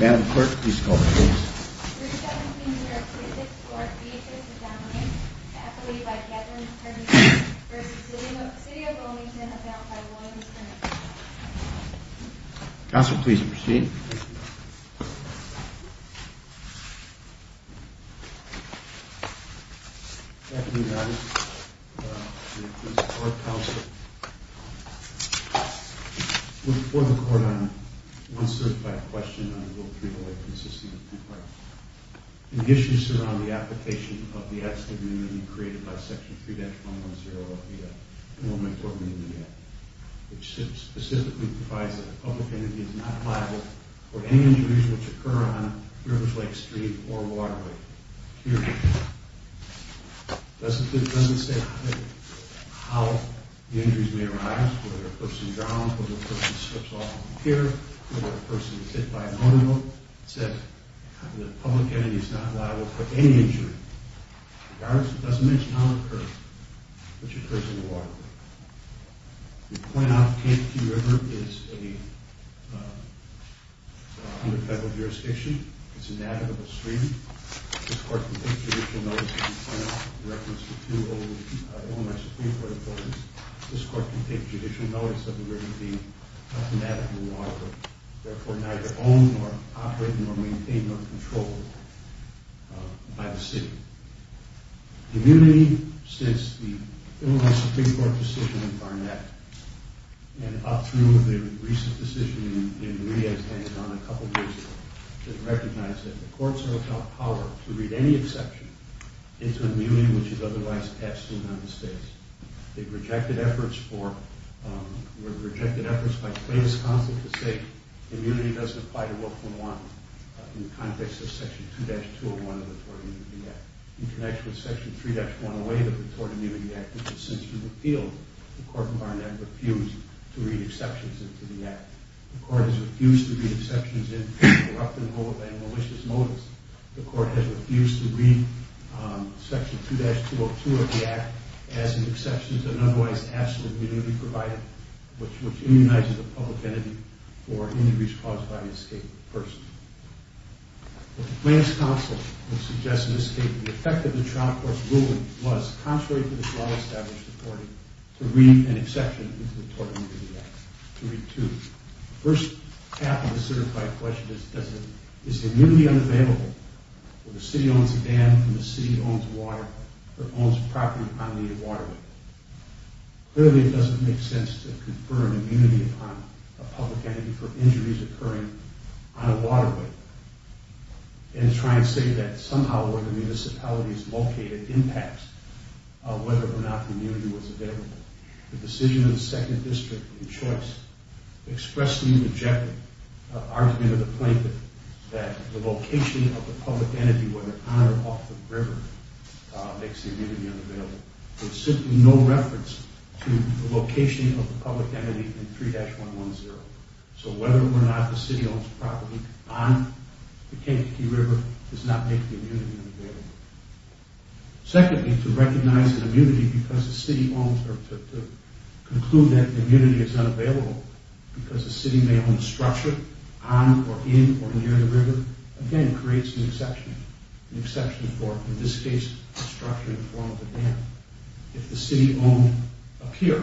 Madam Clerk, please call the roll. 317-264-BHS-Dominion, affidavit by Kevin Herrington v. City of Wilmington, affidavit by William H. Herrington Counselor, please proceed. Thank you, Your Honor. Your Honor, please call the roll. I move for the Court on 1 Certified Question on Rule 308, Consisting of Two Parts. The issues surround the application of the active immunity created by Section 3-110 of the Wilmington Amendment Act, which specifically provides that a public entity is not liable for any injuries which occur on rivers, lakes, streams, or waterways. It doesn't say how the injuries may arise, whether a person drowns, whether a person slips off a pier, whether a person is hit by an automobile. It says that a public entity is not liable for any injury. It doesn't mention how it occurs, but it occurs on the waterway. The point of Kankakee River is under federal jurisdiction. It's a navigable stream. This Court can take judicial notice of the point of reference to two elements of Supreme Court importance. This Court can take judicial notice of the river being automatically a waterway, therefore neither own nor operate nor maintain nor control by the city. Immunity, since the Illinois Supreme Court decision in Barnett and up through the recent decision in Rhea, a couple of years ago, has recognized that the courts are without power to read any exception into an immunity which is otherwise taxed to the United States. They've rejected efforts by Clay, Wisconsin, to say immunity doesn't apply to World War I in the context of Section 2-201 of the Tort Immunity Act. In connection with Section 3-108 of the Tort Immunity Act, which is since been repealed, the Court in Barnett refused to read exceptions into the Act. The Court has refused to read exceptions in corrupt and malicious motives. The Court has refused to read Section 2-202 of the Act as an exception to an otherwise absolute immunity provided, which immunizes a public entity for any response by an escaped person. The Clay, Wisconsin, will suggest an escape. The effect of the Toronto Court's ruling was, contrary to the Toronto established reporting, to read an exception into the Tort Immunity Act, to read two. The first half of the certified question is, is immunity unavailable when the city owns a dam, when the city owns water, or owns property on the waterway? Clearly, it doesn't make sense to confer an immunity upon a public entity for injuries occurring on a waterway and try and say that somehow or other the municipality is located impacts whether or not immunity was available. The decision of the 2nd District, in choice, expressed the objective argument of the plaintiff that the location of the public entity, whether on or off the river, makes the immunity unavailable. There's simply no reference to the location of the public entity in 3-110. So whether or not the city owns property on the Kentucky River does not make the immunity unavailable. Secondly, to recognize an immunity because the city owns, or to conclude that immunity is unavailable because the city may own structure on or in or near the river, again, creates an exception. An exception for, in this case, the structure in front of the dam. If the city owned a pier,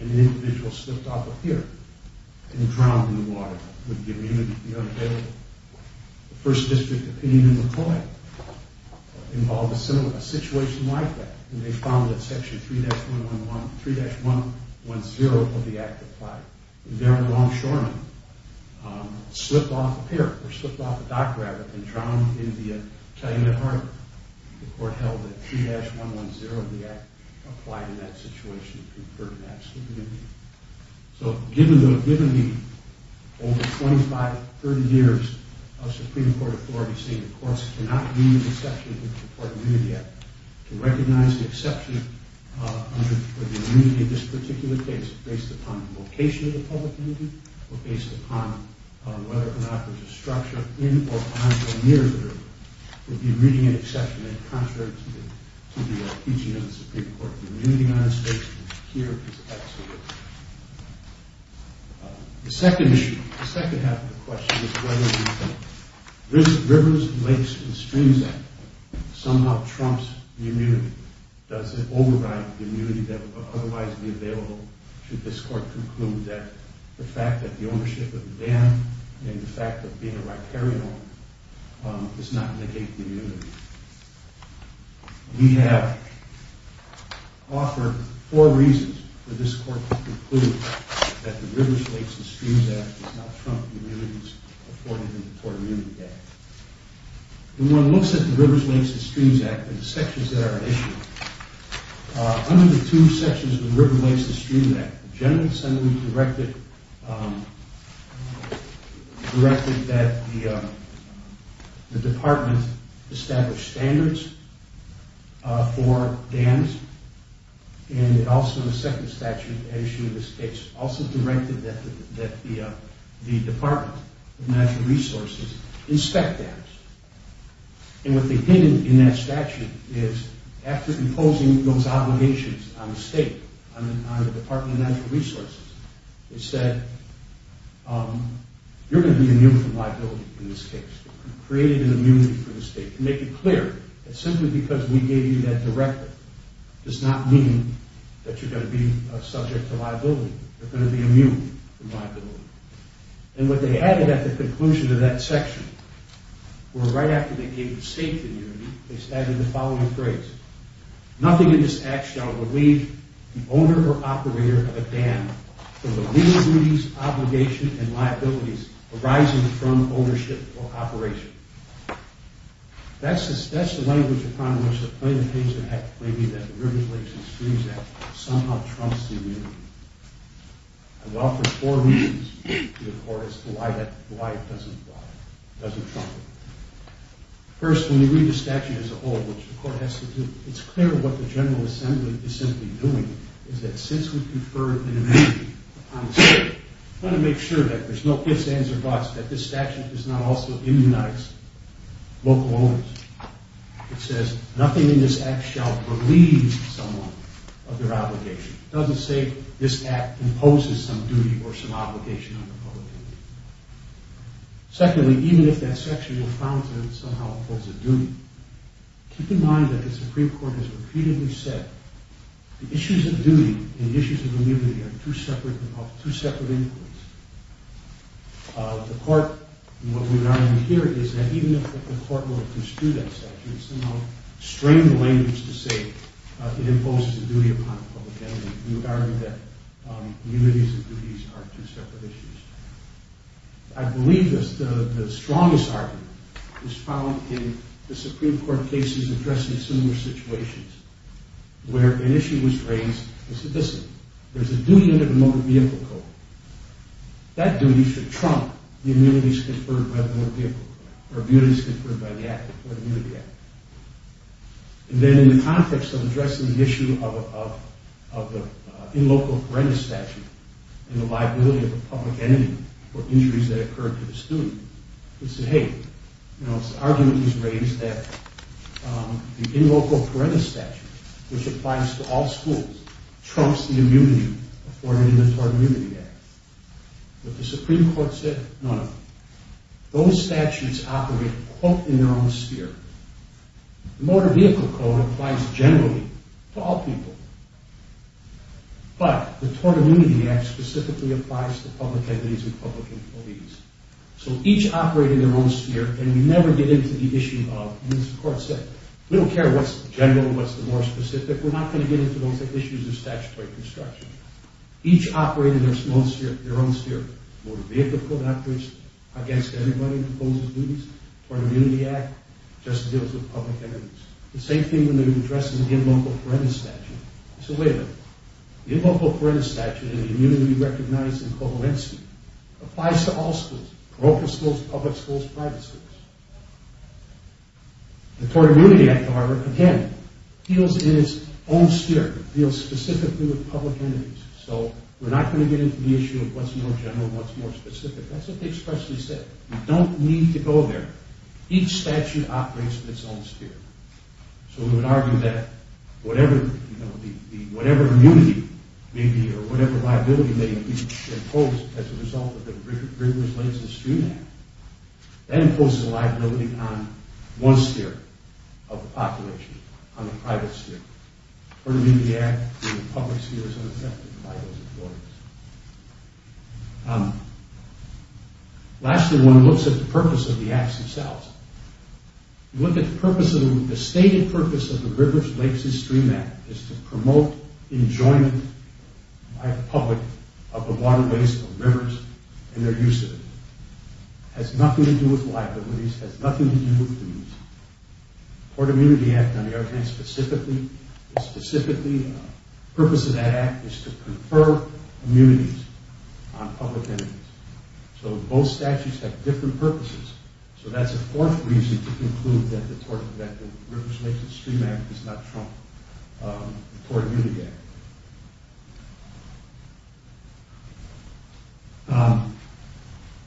and an individual slipped off a pier and drowned in the water, would the immunity be unavailable? The 1st District opinion in McCoy involved a situation like that, and they found that Section 3-110 of the Act applied. And Darren Longshoreman slipped off a pier, or slipped off a dock raft and drowned in the Taliban Harbor. The court held that 3-110 of the Act applied in that situation and conferred an absolute immunity. So, given the over 25, 30 years of Supreme Court authority, seeing the courts cannot read an exception to the Court of Immunity Act, to recognize the exception for the immunity in this particular case based upon location of the public entity, or based upon whether or not there's a structure in or on or near the river, would be reading an exception in contrary to the teaching of the Supreme Court. The immunity on this case, here, is absolute. The 2nd issue, the 2nd half of the question, is whether the Rivers, Lakes, and Streams Act somehow trumps the immunity. Does it override the immunity that would otherwise be available, should this court conclude that the fact that the ownership of the dam, and the fact that being a riparian owner, does not negate the immunity? We have offered 4 reasons for this court to conclude that the Rivers, Lakes, and Streams Act does not trump the immunities afforded in the Court of Immunity Act. When one looks at the Rivers, Lakes, and Streams Act and the sections that are issued, under the 2 sections of the Rivers, Lakes, and Streams Act, the General Assembly directed that the Department establish standards for dams, and also the 2nd statute, as issued in this case, also directed that the Department of Natural Resources inspect dams. And what they did in that statute is, after imposing those obligations on the State, on the Department of Natural Resources, they said, you're going to be immune from liability in this case. You've created an immunity for the State. To make it clear, that simply because we gave you that directive, does not mean that you're going to be subject to liability. You're going to be immune from liability. And what they added at the conclusion of that section, where right after they gave the State the immunity, they stated the following phrase. Nothing in this act shall relieve the owner or operator of a dam from the legal duties, obligation, and liabilities arising from ownership or operation. That's the language upon which the plaintiff-patient act, maybe the Rivers, Lakes, and Streams Act, somehow trumps the immunity. And it offers 4 reasons to the Court as to why it doesn't trump it. First, when you read the statute as a whole, which the Court has to do, it's clear what the General Assembly is simply doing, is that since we conferred an immunity upon the State, we want to make sure that there's no ifs, ands, or buts, that this statute does not also immunize local owners. It says, nothing in this act shall relieve someone of their obligation. It doesn't say this act imposes some duty or some obligation on the public. Secondly, even if that section you're found to have somehow imposed a duty, keep in mind that the Supreme Court has repeatedly said the issues of duty and the issues of immunity are two separate inquiries. The Court, what we argue here, is that even if the Court were to construe that statute, somehow strain the language to say it imposes a duty upon the public. We argue that duties and immunities are two separate issues. I believe the strongest argument is found in the Supreme Court cases addressing similar situations, where an issue was raised, it said, listen, there's a duty under the Motor Vehicle Code. That duty should trump the immunities conferred by the Motor Vehicle Code, or immunities conferred by the Act. And then in the context of addressing the issue of the in-local parental statute and the liability of the public entity for injuries that occurred to the student, it said, hey, you know, it's an argument that was raised that the in-local parental statute, which applies to all schools, trumps the immunity afforded in the Tort Immunity Act. But the Supreme Court said, no, no. Those statutes operate, quote, in their own sphere. The Motor Vehicle Code applies generally to all people. But the Tort Immunity Act specifically applies to public entities and public employees. So each operate in their own sphere, and we never get into the issue of, and as the Court said, we don't care what's general and what's the more specific, we're not going to get into those issues of statutory construction. Each operate in their own sphere. The Motor Vehicle Code operates against anybody who opposes duties. The Tort Immunity Act just deals with public entities. The same thing when they're addressing the in-local parental statute. So wait a minute. The in-local parental statute and the immunity recognized in coherency applies to all schools, parochial schools, public schools, private schools. The Tort Immunity Act, however, again, deals in its own sphere. It deals specifically with public entities. So we're not going to get into the issue of what's more general and what's more specific. That's what they expressly said. You don't need to go there. Each statute operates in its own sphere. So we would argue that whatever, you know, the whatever immunity may be or whatever liability may be imposed as a result of the Rivers, Lakes, and Stream Act, that imposes a liability on one sphere of the population, on the private sphere. The Tort Immunity Act in the public sphere is unaffected by those authorities. Lastly, when one looks at the purpose of the acts themselves, you look at the stated purpose of the Rivers, Lakes, and Stream Act is to promote enjoyment by the public of the waterways, of rivers, and their use of it. It has nothing to do with liabilities. It has nothing to do with duties. The Tort Immunity Act on the other hand specifically, the purpose of that act is to confer immunities on public entities. So both statutes have different purposes. So that's a fourth reason to conclude that the Rivers, Lakes, and Stream Act does not trump the Tort Immunity Act.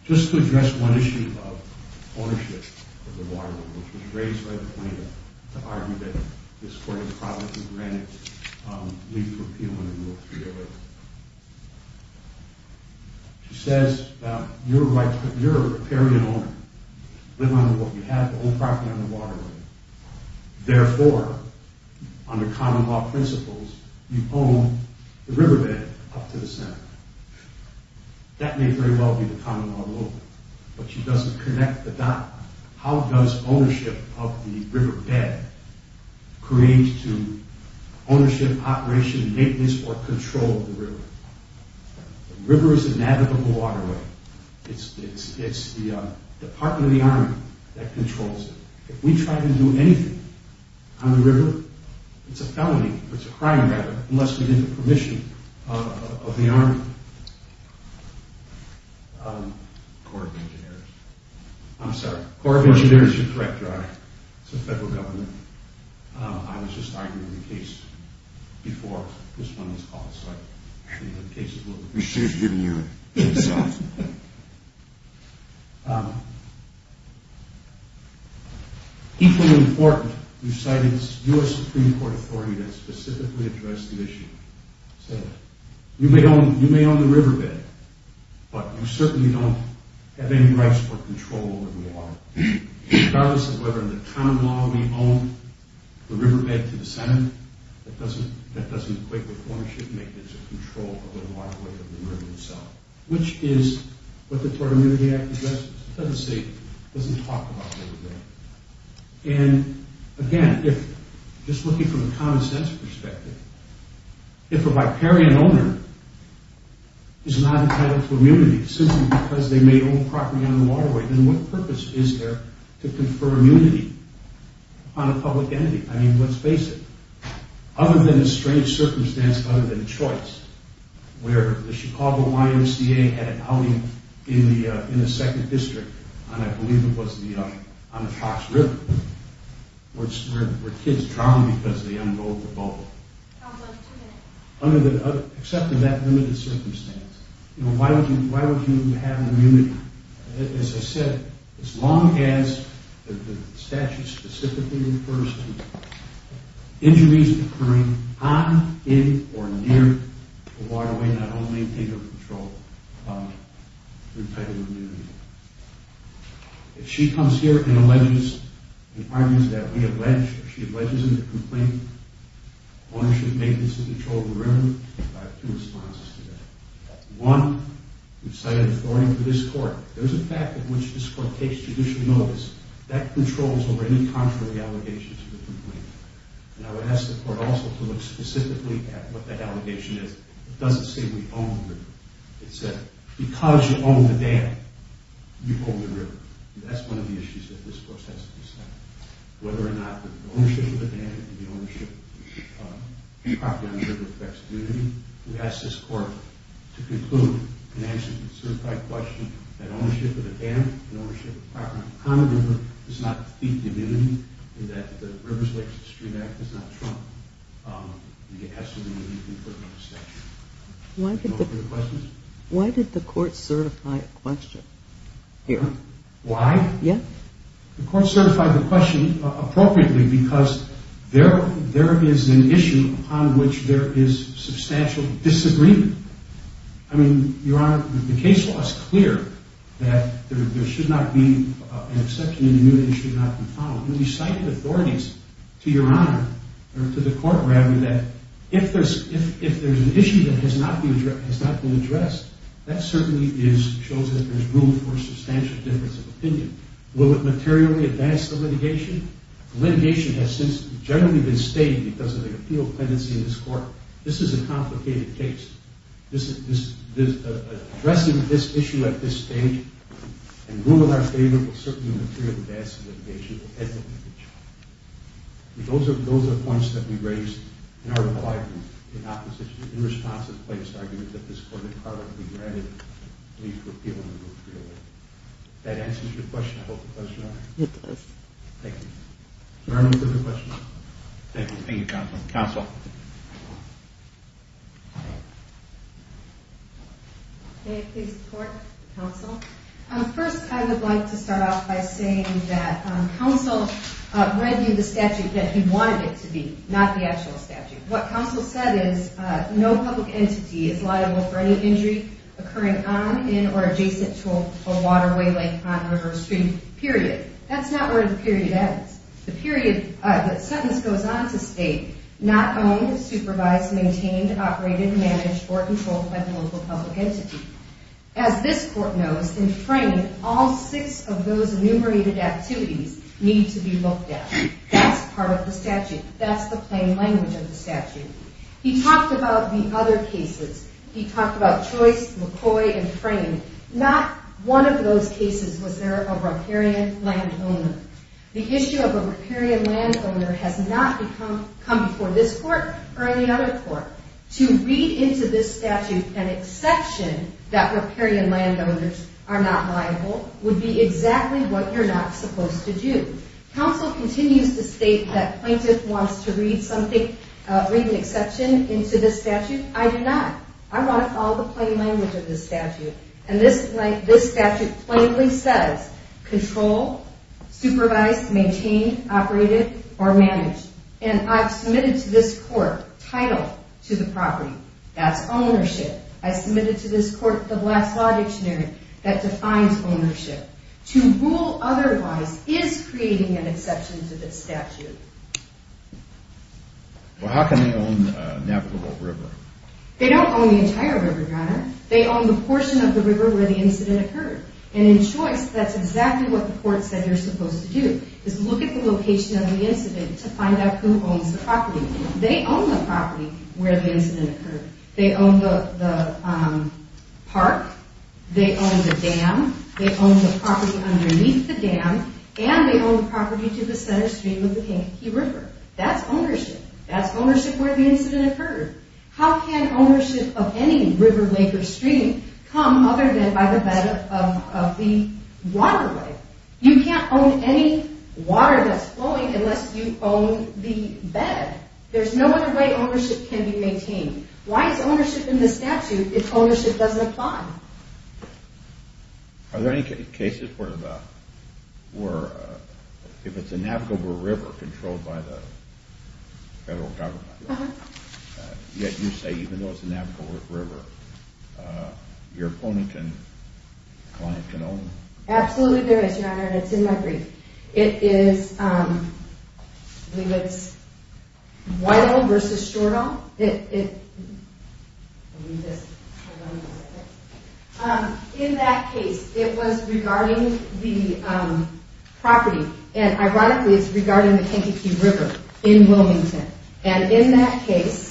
Just to address one issue of ownership of the waterway, which was raised by the plaintiff to argue that this court has privately granted leave to appeal under Rule 308. She says, you're a riparian owner. You live on the waterway. You have all property on the waterway. Therefore, under common law principles, you own the riverbed up to the center. That may very well be the common law rule. But she doesn't connect the dot. How does ownership of the riverbed create ownership, operation, maintenance, or control of the river? The river is a navigable waterway. It's the Department of the Army that controls it. If we try to do anything on the river, it's a felony. It's a crime, rather, unless we get the permission of the Army. I'm sorry. The Corps of Engineers, you're correct, Your Honor. It's the federal government. I was just arguing the case before this one was called. We should have given you a case-off. Equally important, you cited your Supreme Court authority that specifically addressed the issue. It said, you may own the riverbed, but you certainly don't have any rights for control over the water. Regardless of whether under common law we own the riverbed to the Senate, that doesn't equate with ownership, maintenance, or control of the waterway of the river itself, which is what the Florida Immunity Act addresses. It doesn't talk about the riverbed. Again, just looking from a common sense perspective, if a riparian owner is not entitled to immunity simply because they may own property on the waterway, then what purpose is there to confer immunity on a public entity? I mean, let's face it. Other than a strange circumstance, other than a choice, where the Chicago YMCA had an outing in the 2nd District, and I believe it was on the Fox River, where kids drowned because they unrolled the boat. Except in that limited circumstance, why would you have immunity? As I said, as long as the statute specifically refers to injuries occurring on, in, or near the waterway, not only in your control, you're entitled to immunity. If she comes here and alleges the arguments that we have ledged, if she alleges in the complaint ownership, maintenance, and control of the river, we have two responses to that. One, we've cited authority for this Court. There's a fact in which this Court takes judicial notice. That controls over any contrary allegations to the complaint. And I would ask the Court also to look specifically at what that allegation is. It doesn't say we own the river. It said, because you own the dam, you own the river. That's one of the issues that this Court has to decide. Whether or not the ownership of the dam and the ownership of property on the river affects immunity, we ask this Court to conclude and answer the certified question that ownership of the dam and ownership of property on the river does not defeat immunity, and that the Rivers, Lakes, and Streets Act does not trump the assertion that you can put up a statute. Why did the Court certify a question here? Why? Yeah? The Court certified the question appropriately because there is an issue upon which there is substantial disagreement. I mean, Your Honor, the case law is clear that there should not be an exception and immunity should not be found. We cited authorities to Your Honor, or to the Court, rather, that if there's an issue that has not been addressed, that certainly shows that there's room for substantial difference of opinion. Will it materially advance the litigation? Litigation has since generally been stated because of the appeal tendency in this Court. This is a complicated case. Addressing this issue at this stage, and rule in our favor, will certainly materially advance the litigation. It will edge the litigation. Those are points that we raised in Article I, in opposition, in response to the plaintiff's argument that this Court had already granted leave for appeal under Rule 311. If that answers your question, I hope it does, Your Honor. It does. Thank you. Are there any further questions? Thank you. Thank you, Counsel. Counsel. May I please report, Counsel? First, I would like to start off by saying that Counsel read you the statute that he wanted it to be, not the actual statute. What Counsel said is, no public entity is liable for any injury occurring on, in, or adjacent to a waterway, lake, pond, river, or stream, period. That's not where the period ends. The sentence goes on to state, not owned, supervised, maintained, operated, managed, or controlled by the local public entity. As this Court knows, in Frayn, all six of those enumerated activities need to be looked at. That's part of the statute. That's the plain language of the statute. He talked about the other cases. He talked about Choice, McCoy, and Frayn. Not one of those cases was there a riparian landowner. The issue of a riparian landowner has not come before this Court or any other Court. To read into this statute an exception that riparian landowners are not liable would be exactly what you're not supposed to do. Counsel continues to state that Plaintiff wants to read something, read an exception into this statute. I do not. I want to follow the plain language of this statute. And this statute plainly says control, supervised, maintained, operated, or managed. And I've submitted to this Court title to the property. That's ownership. I submitted to this Court the last law dictionary that defines ownership. To rule otherwise is creating an exception to this statute. Well, how can they own a navigable river? They don't own the entire river, Donna. They own the portion of the river where the incident occurred. And in Choice, that's exactly what the Court said you're supposed to do, is look at the location of the incident to find out who owns the property. They own the property where the incident occurred. They own the park. They own the dam. They own the property underneath the dam. And they own the property to the center stream of the Kankakee River. That's ownership. That's ownership where the incident occurred. How can ownership of any river, lake, or stream come other than by the bed of the waterway? You can't own any water that's flowing unless you own the bed. There's no other way ownership can be maintained. Why is ownership in this statute if ownership doesn't apply? Are there any cases where if it's a navigable river controlled by the federal government, yet you say even though it's a navigable river, your client can own it? Absolutely there is, Your Honor, and it's in my brief. It is, I believe it's Whitehall v. Stordahl. In that case, it was regarding the property. And ironically, it's regarding the Kankakee River in Wilmington. And in that case,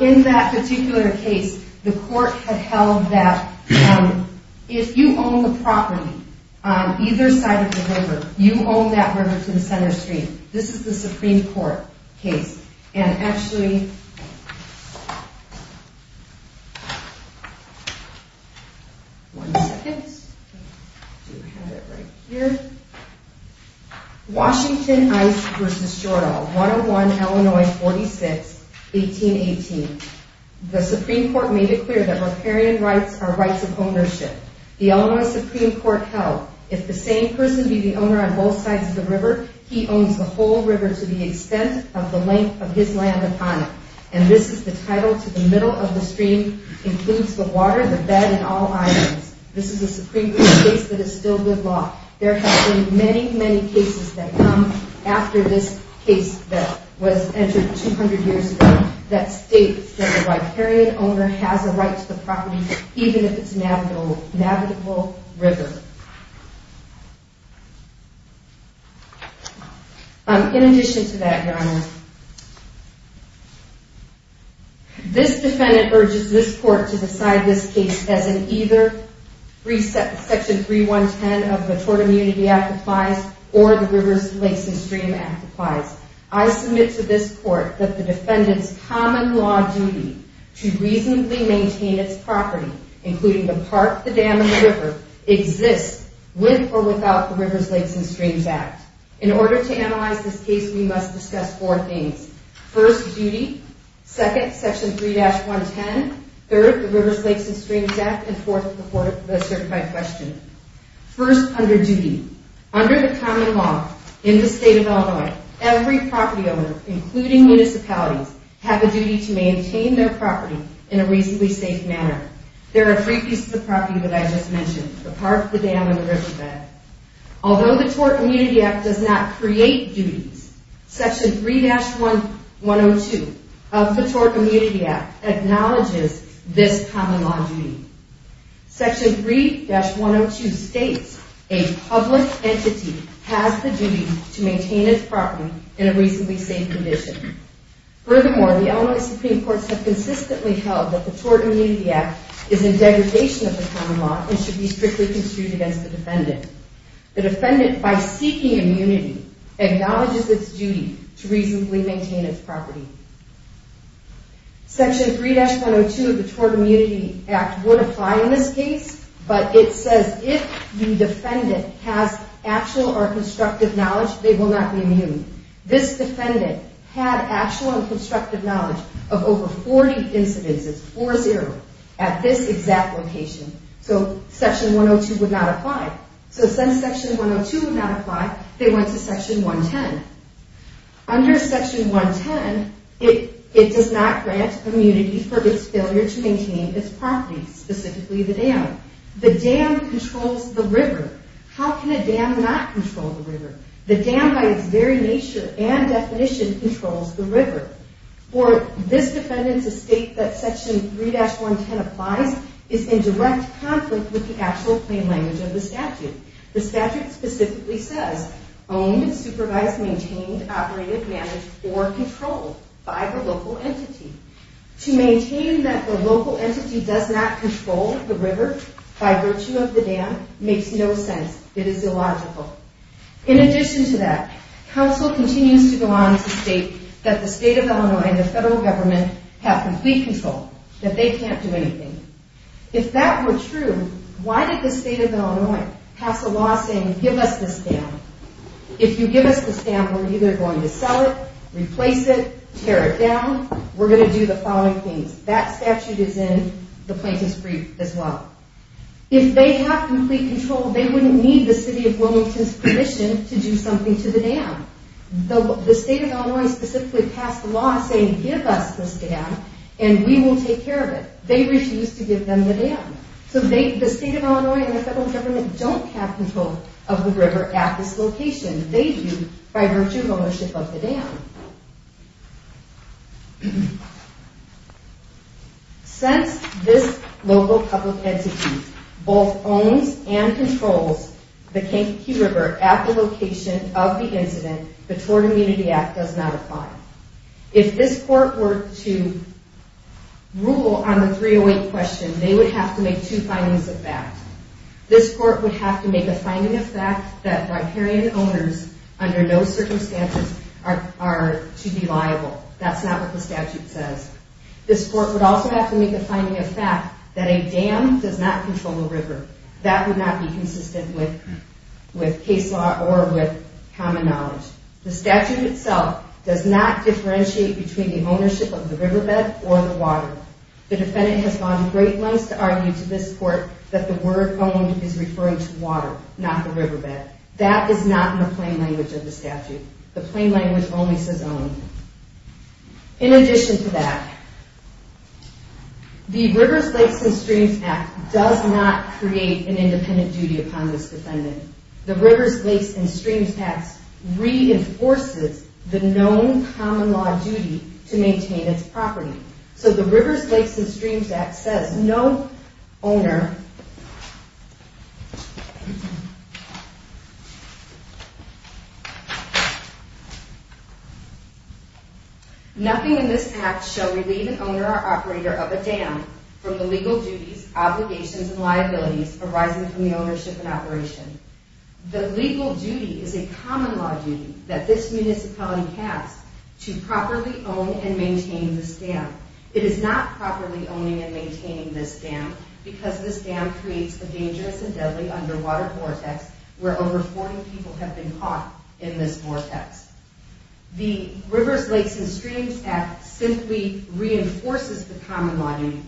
In that particular case, the court had held that if you own the property on either side of the river, you own that river to the center stream. This is the Supreme Court case. And actually, one second. I do have it right here. Washington Ice v. Stordahl, 101 Illinois 46, 1818. The Supreme Court made it clear that riparian rights are rights of ownership. The Illinois Supreme Court held if the same person be the owner on both sides of the river, he owns the whole river to the extent of the length of his land upon it. And this is the title to the middle of the stream, includes the water, the bed, and all items. This is a Supreme Court case that is still good law. There have been many, many cases that come after this case that was entered 200 years ago that state that the riparian owner has a right to the property even if it's a navigable river. In addition to that, Your Honor, this defendant urges this court to decide this case as in either Section 3110 of the Tort Immunity Act applies or the Rivers, Lakes, and Stream Act applies. I submit to this court that the defendant's common law duty to reasonably maintain its property, including the park, the dam, and the river, exists with or without the Rivers, Lakes, and Streams Act. In order to analyze this case, we must discuss four things. First, duty. Second, Section 3-110. Third, the Rivers, Lakes, and Streams Act. And fourth, the certified question. First, under duty. Under the common law in the state of Illinois, every property owner, including municipalities, have a duty to maintain their property in a reasonably safe manner. There are three pieces of property that I just mentioned, the park, the dam, and the riverbed. Although the Tort Immunity Act does not create duties, Section 3-102 of the Tort Immunity Act acknowledges this common law duty. Section 3-102 states a public entity has the duty to maintain its property in a reasonably safe condition. Furthermore, the Illinois Supreme Courts have consistently held that the Tort Immunity Act is in degradation of the common law and should be strictly construed against the defendant. The defendant, by seeking immunity, acknowledges its duty to reasonably maintain its property. Section 3-102 of the Tort Immunity Act would apply in this case, but it says if the defendant has actual or constructive knowledge, they will not be immune. This defendant had actual and constructive knowledge of over 40 incidences, 4-0, at this exact location. So Section 102 would not apply. So since Section 102 would not apply, they went to Section 110. Under Section 110, it does not grant immunity for its failure to maintain its property, specifically the dam. The dam controls the river. How can a dam not control the river? The dam, by its very nature and definition, controls the river. For this defendant to state that Section 3-110 applies is in direct conflict with the actual plain language of the statute. The statute specifically says, own, supervise, maintain, operate, manage, or control by the local entity. To maintain that the local entity does not control the river by virtue of the dam makes no sense. It is illogical. In addition to that, counsel continues to go on to state that the state of Illinois and the federal government have complete control, that they can't do anything. If that were true, why did the state of Illinois pass a law saying, give us this dam? If you give us this dam, we're either going to sell it, replace it, tear it down. We're going to do the following things. That statute is in the plaintiff's brief as well. If they have complete control, they wouldn't need the city of Wilmington's permission to do something to the dam. The state of Illinois specifically passed a law saying, give us this dam, and we will take care of it. They refused to give them the dam. So the state of Illinois and the federal government don't have control of the river at this location. They do by virtue of ownership of the dam. Since this local public entity both owns and controls the Kankakee River at the location of the incident, the Tort Immunity Act does not apply. If this court were to rule on the 308 question, they would have to make two findings of that. This court would have to make a finding of fact that riparian owners under no circumstances are to be liable. That's not what the statute says. This court would also have to make a finding of fact that a dam does not control a river. That would not be consistent with case law or with common knowledge. The statute itself does not differentiate between the ownership of the riverbed or the water. The defendant has gone to great lengths to argue to this court that the word owned is referring to water, not the riverbed. That is not in the plain language of the statute. The plain language only says owned. In addition to that, the Rivers, Lakes, and Streams Act does not create an independent duty upon this defendant. The Rivers, Lakes, and Streams Act reinforces the known common law duty to maintain its property. So the Rivers, Lakes, and Streams Act says no owner. Nothing in this act shall relieve an owner or operator of a dam from the legal duties, obligations, and liabilities arising from the ownership and operation. The legal duty is a common law duty that this municipality has to properly own and maintain this dam. It is not properly owning and maintaining this dam because this dam creates a dangerous and deadly underwater vortex where over 40 people have been caught in this vortex. The Rivers, Lakes, and Streams Act simply reinforces the common law duty.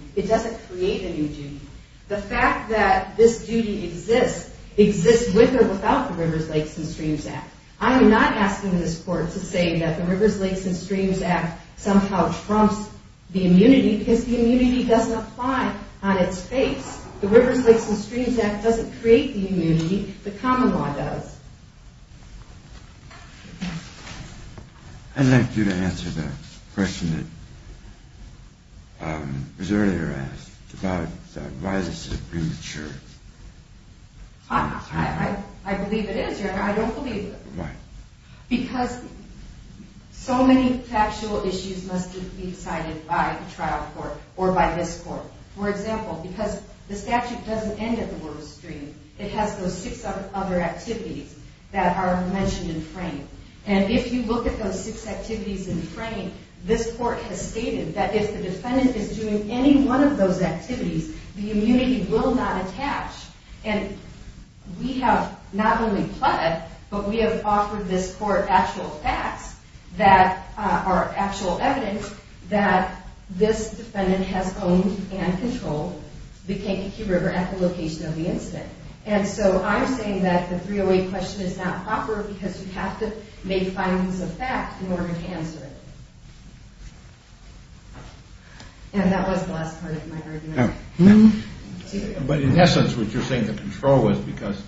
The fact that this duty exists exists with or without the Rivers, Lakes, and Streams Act. I am not asking this court to say that the Rivers, Lakes, and Streams Act somehow trumps the immunity because the immunity doesn't apply on its face. The Rivers, Lakes, and Streams Act doesn't create the immunity. The common law does. I'd like you to answer the question that was earlier asked about why this is premature. I believe it is, Your Honor. I don't believe it. Why? Because so many factual issues must be decided by the trial court or by this court. For example, because the statute doesn't end at the Rivers, Lakes, and Streams, it has those six other activities that are mentioned in frame. And if you look at those six activities in frame, this court has stated that if the defendant is doing any one of those activities, the immunity will not attach. And we have not only pled, but we have offered this court actual facts that are actual evidence that this defendant has owned and controlled the Kankakee River at the location of the incident. And so I'm saying that the 308 question is not proper because you have to make findings of fact in order to answer it. And that was the last part of my argument. But in essence, what you're saying the control was because,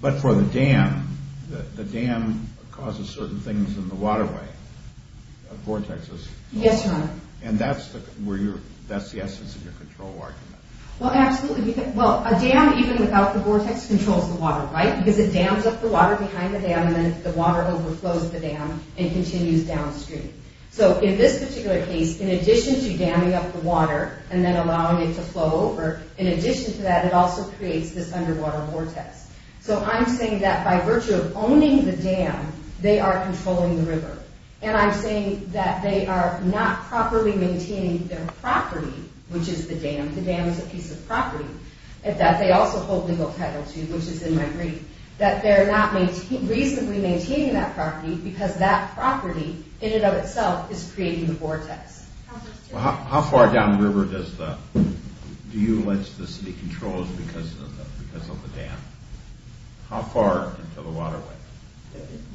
but for the dam, the dam causes certain things in the waterway, vortexes. Yes, Your Honor. And that's the essence of your control argument. Well, absolutely. Well, a dam, even without the vortex, controls the water, right? Because it dams up the water behind the dam, and then the water overflows the dam and continues downstream. So in this particular case, in addition to damming up the water and then allowing it to flow over, in addition to that, it also creates this underwater vortex. So I'm saying that by virtue of owning the dam, they are controlling the river. And I'm saying that they are not properly maintaining their property, which is the dam. And that they also hold legal title to, which is in my brief, that they're not reasonably maintaining that property because that property in and of itself is creating the vortex. Well, how far down the river does the, do you allege the city controls because of the dam? How far into the waterway?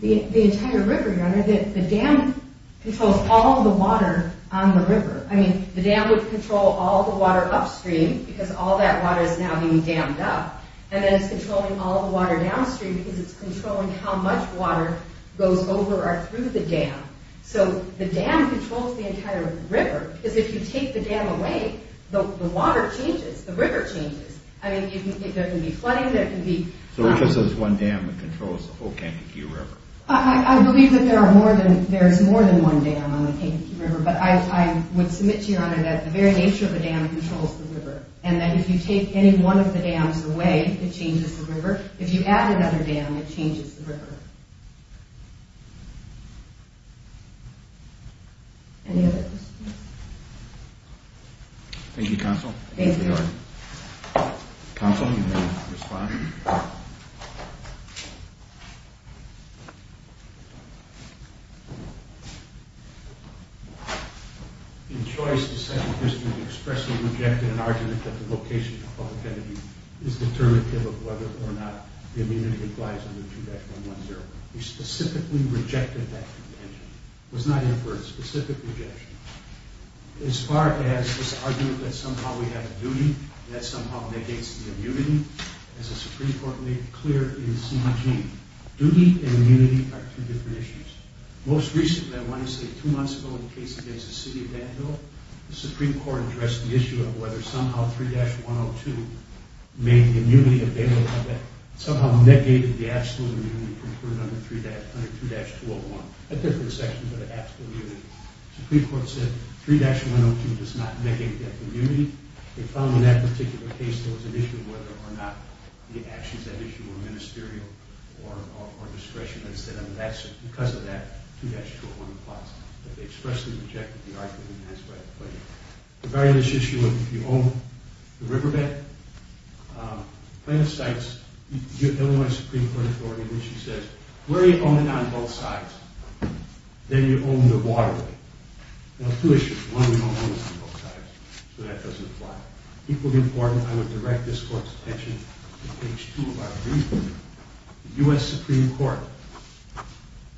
The entire river, Your Honor. The dam controls all the water on the river. I mean, the dam would control all the water upstream because all that water is now being dammed up. And then it's controlling all the water downstream because it's controlling how much water goes over or through the dam. So the dam controls the entire river. Because if you take the dam away, the water changes, the river changes. I mean, there can be flooding, there can be... So it's just this one dam that controls the whole Kankakee River. I believe that there are more than, there's more than one dam on the Kankakee River. But I would submit to Your Honor that the very nature of the dam controls the river. And that if you take any one of the dams away, it changes the river. If you add another dam, it changes the river. Any other questions? Thank you, Counsel. Thank you, Your Honor. Counsel, you may respond. In choice, the Second District expressly rejected an argument that the location of the public entity is determinative of whether or not the immunity applies under 2.110. We specifically rejected that contention. It was not inferred, specific rejection. As far as this argument that somehow we have a duty that somehow negates the immunity, as the Supreme Court made clear in CDG. Duty and immunity are two different issues. Most recently, I want to say two months ago in a case against the city of Vanville, the Supreme Court addressed the issue of whether somehow 3.102 made immunity available, somehow negated the absolute immunity concluded under 2.201. A different section for the absolute immunity. The Supreme Court said 3.102 does not negate that immunity. They found in that particular case there was an issue of whether or not the actions that issue were ministerial or discretionary. Instead, because of that, 2.201 applies. They expressly rejected the argument. That's why I put it. The very next issue of if you own the riverbed, the plan of sites, the Illinois Supreme Court Authority issue says, where you own it on both sides, then you own the waterway. Now, two issues. One, you don't own it on both sides, so that doesn't apply. Equally important, I would direct this Court's attention to page 2 of our agreement, the U.S. Supreme Court.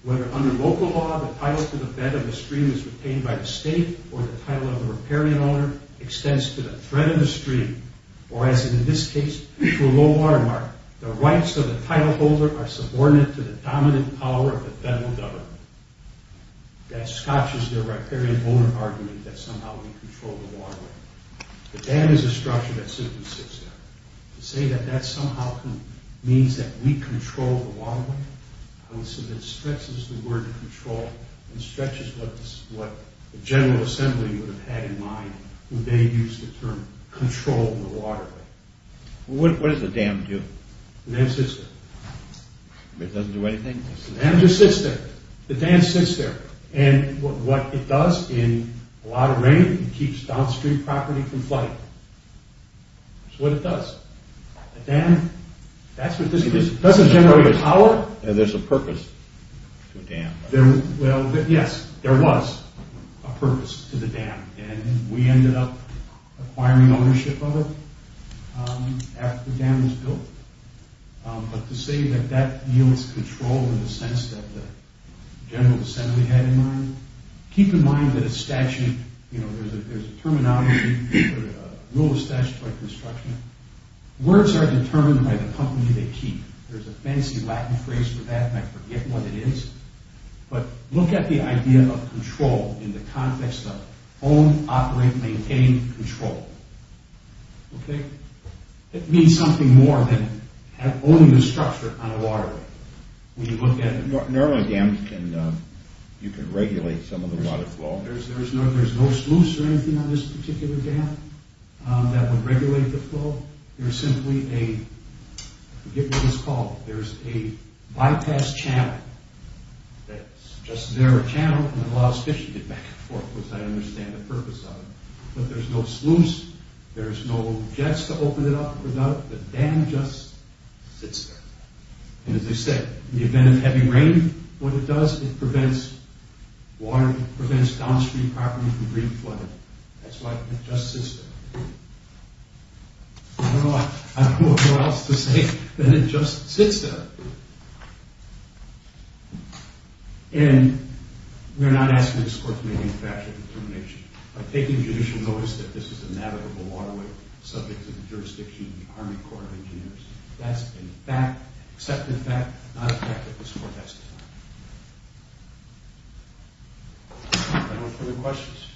Whether under local law, the title to the bed of the stream is retained by the state, or the title of the riparian owner extends to the thread of the stream, or as in this case, to a low watermark, the rights of the titleholder are subordinate to the dominant power of the federal government. That scotches the riparian owner argument that somehow we control the waterway. The dam is a structure that simply sits there. To say that that somehow means that we control the waterway, I would say that stretches the word control and stretches what the General Assembly would have had in mind when they used the term control the waterway. What does the dam do? The dam sits there. It doesn't do anything? The dam just sits there. The dam sits there. And what it does in a lot of rain, it keeps downstream property from flooding. That's what it does. The dam, that's what this is. It doesn't generate power. And there's a purpose to a dam. Yes, there was a purpose to the dam. And we ended up acquiring ownership of it after the dam was built. But to say that that yields control in the sense that the General Assembly had in mind, keep in mind that a statute, you know, there's a terminology, a rule of statutory construction, words are determined by the company they keep. There's a fancy Latin phrase for that, and I forget what it is. But look at the idea of control in the context of own, operate, maintain, control. Okay? It means something more than owning the structure on a waterway. When you look at it. Normally dams can, you can regulate some of the water flow. There's no sluice or anything on this particular dam that would regulate the flow. There's simply a, I forget what it's called, there's a bypass channel that's just there, a channel, and it allows fish to get back and forth, as far as I understand the purpose of it. But there's no sluice, there's no jets to open it up without it. The dam just sits there. And as I said, in the event of heavy rain, what it does, it prevents water, prevents downstream property from being flooded. That's why it just sits there. I don't know what else to say than it just sits there. And we're not asking this court to make any factual determination. By taking judicial notice that this is a navigable waterway, subject to the jurisdiction of the Army Corps of Engineers. That's a fact, an accepted fact, not a fact that this court has to deny. Anyone have any questions?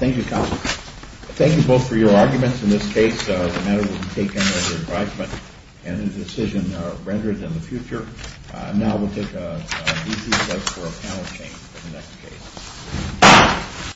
Thank you, counsel. Thank you both for your arguments. In this case, the matter will be taken under advisement and a decision rendered in the future. Now we'll take a brief recess for a panel change for the next case. Thank you.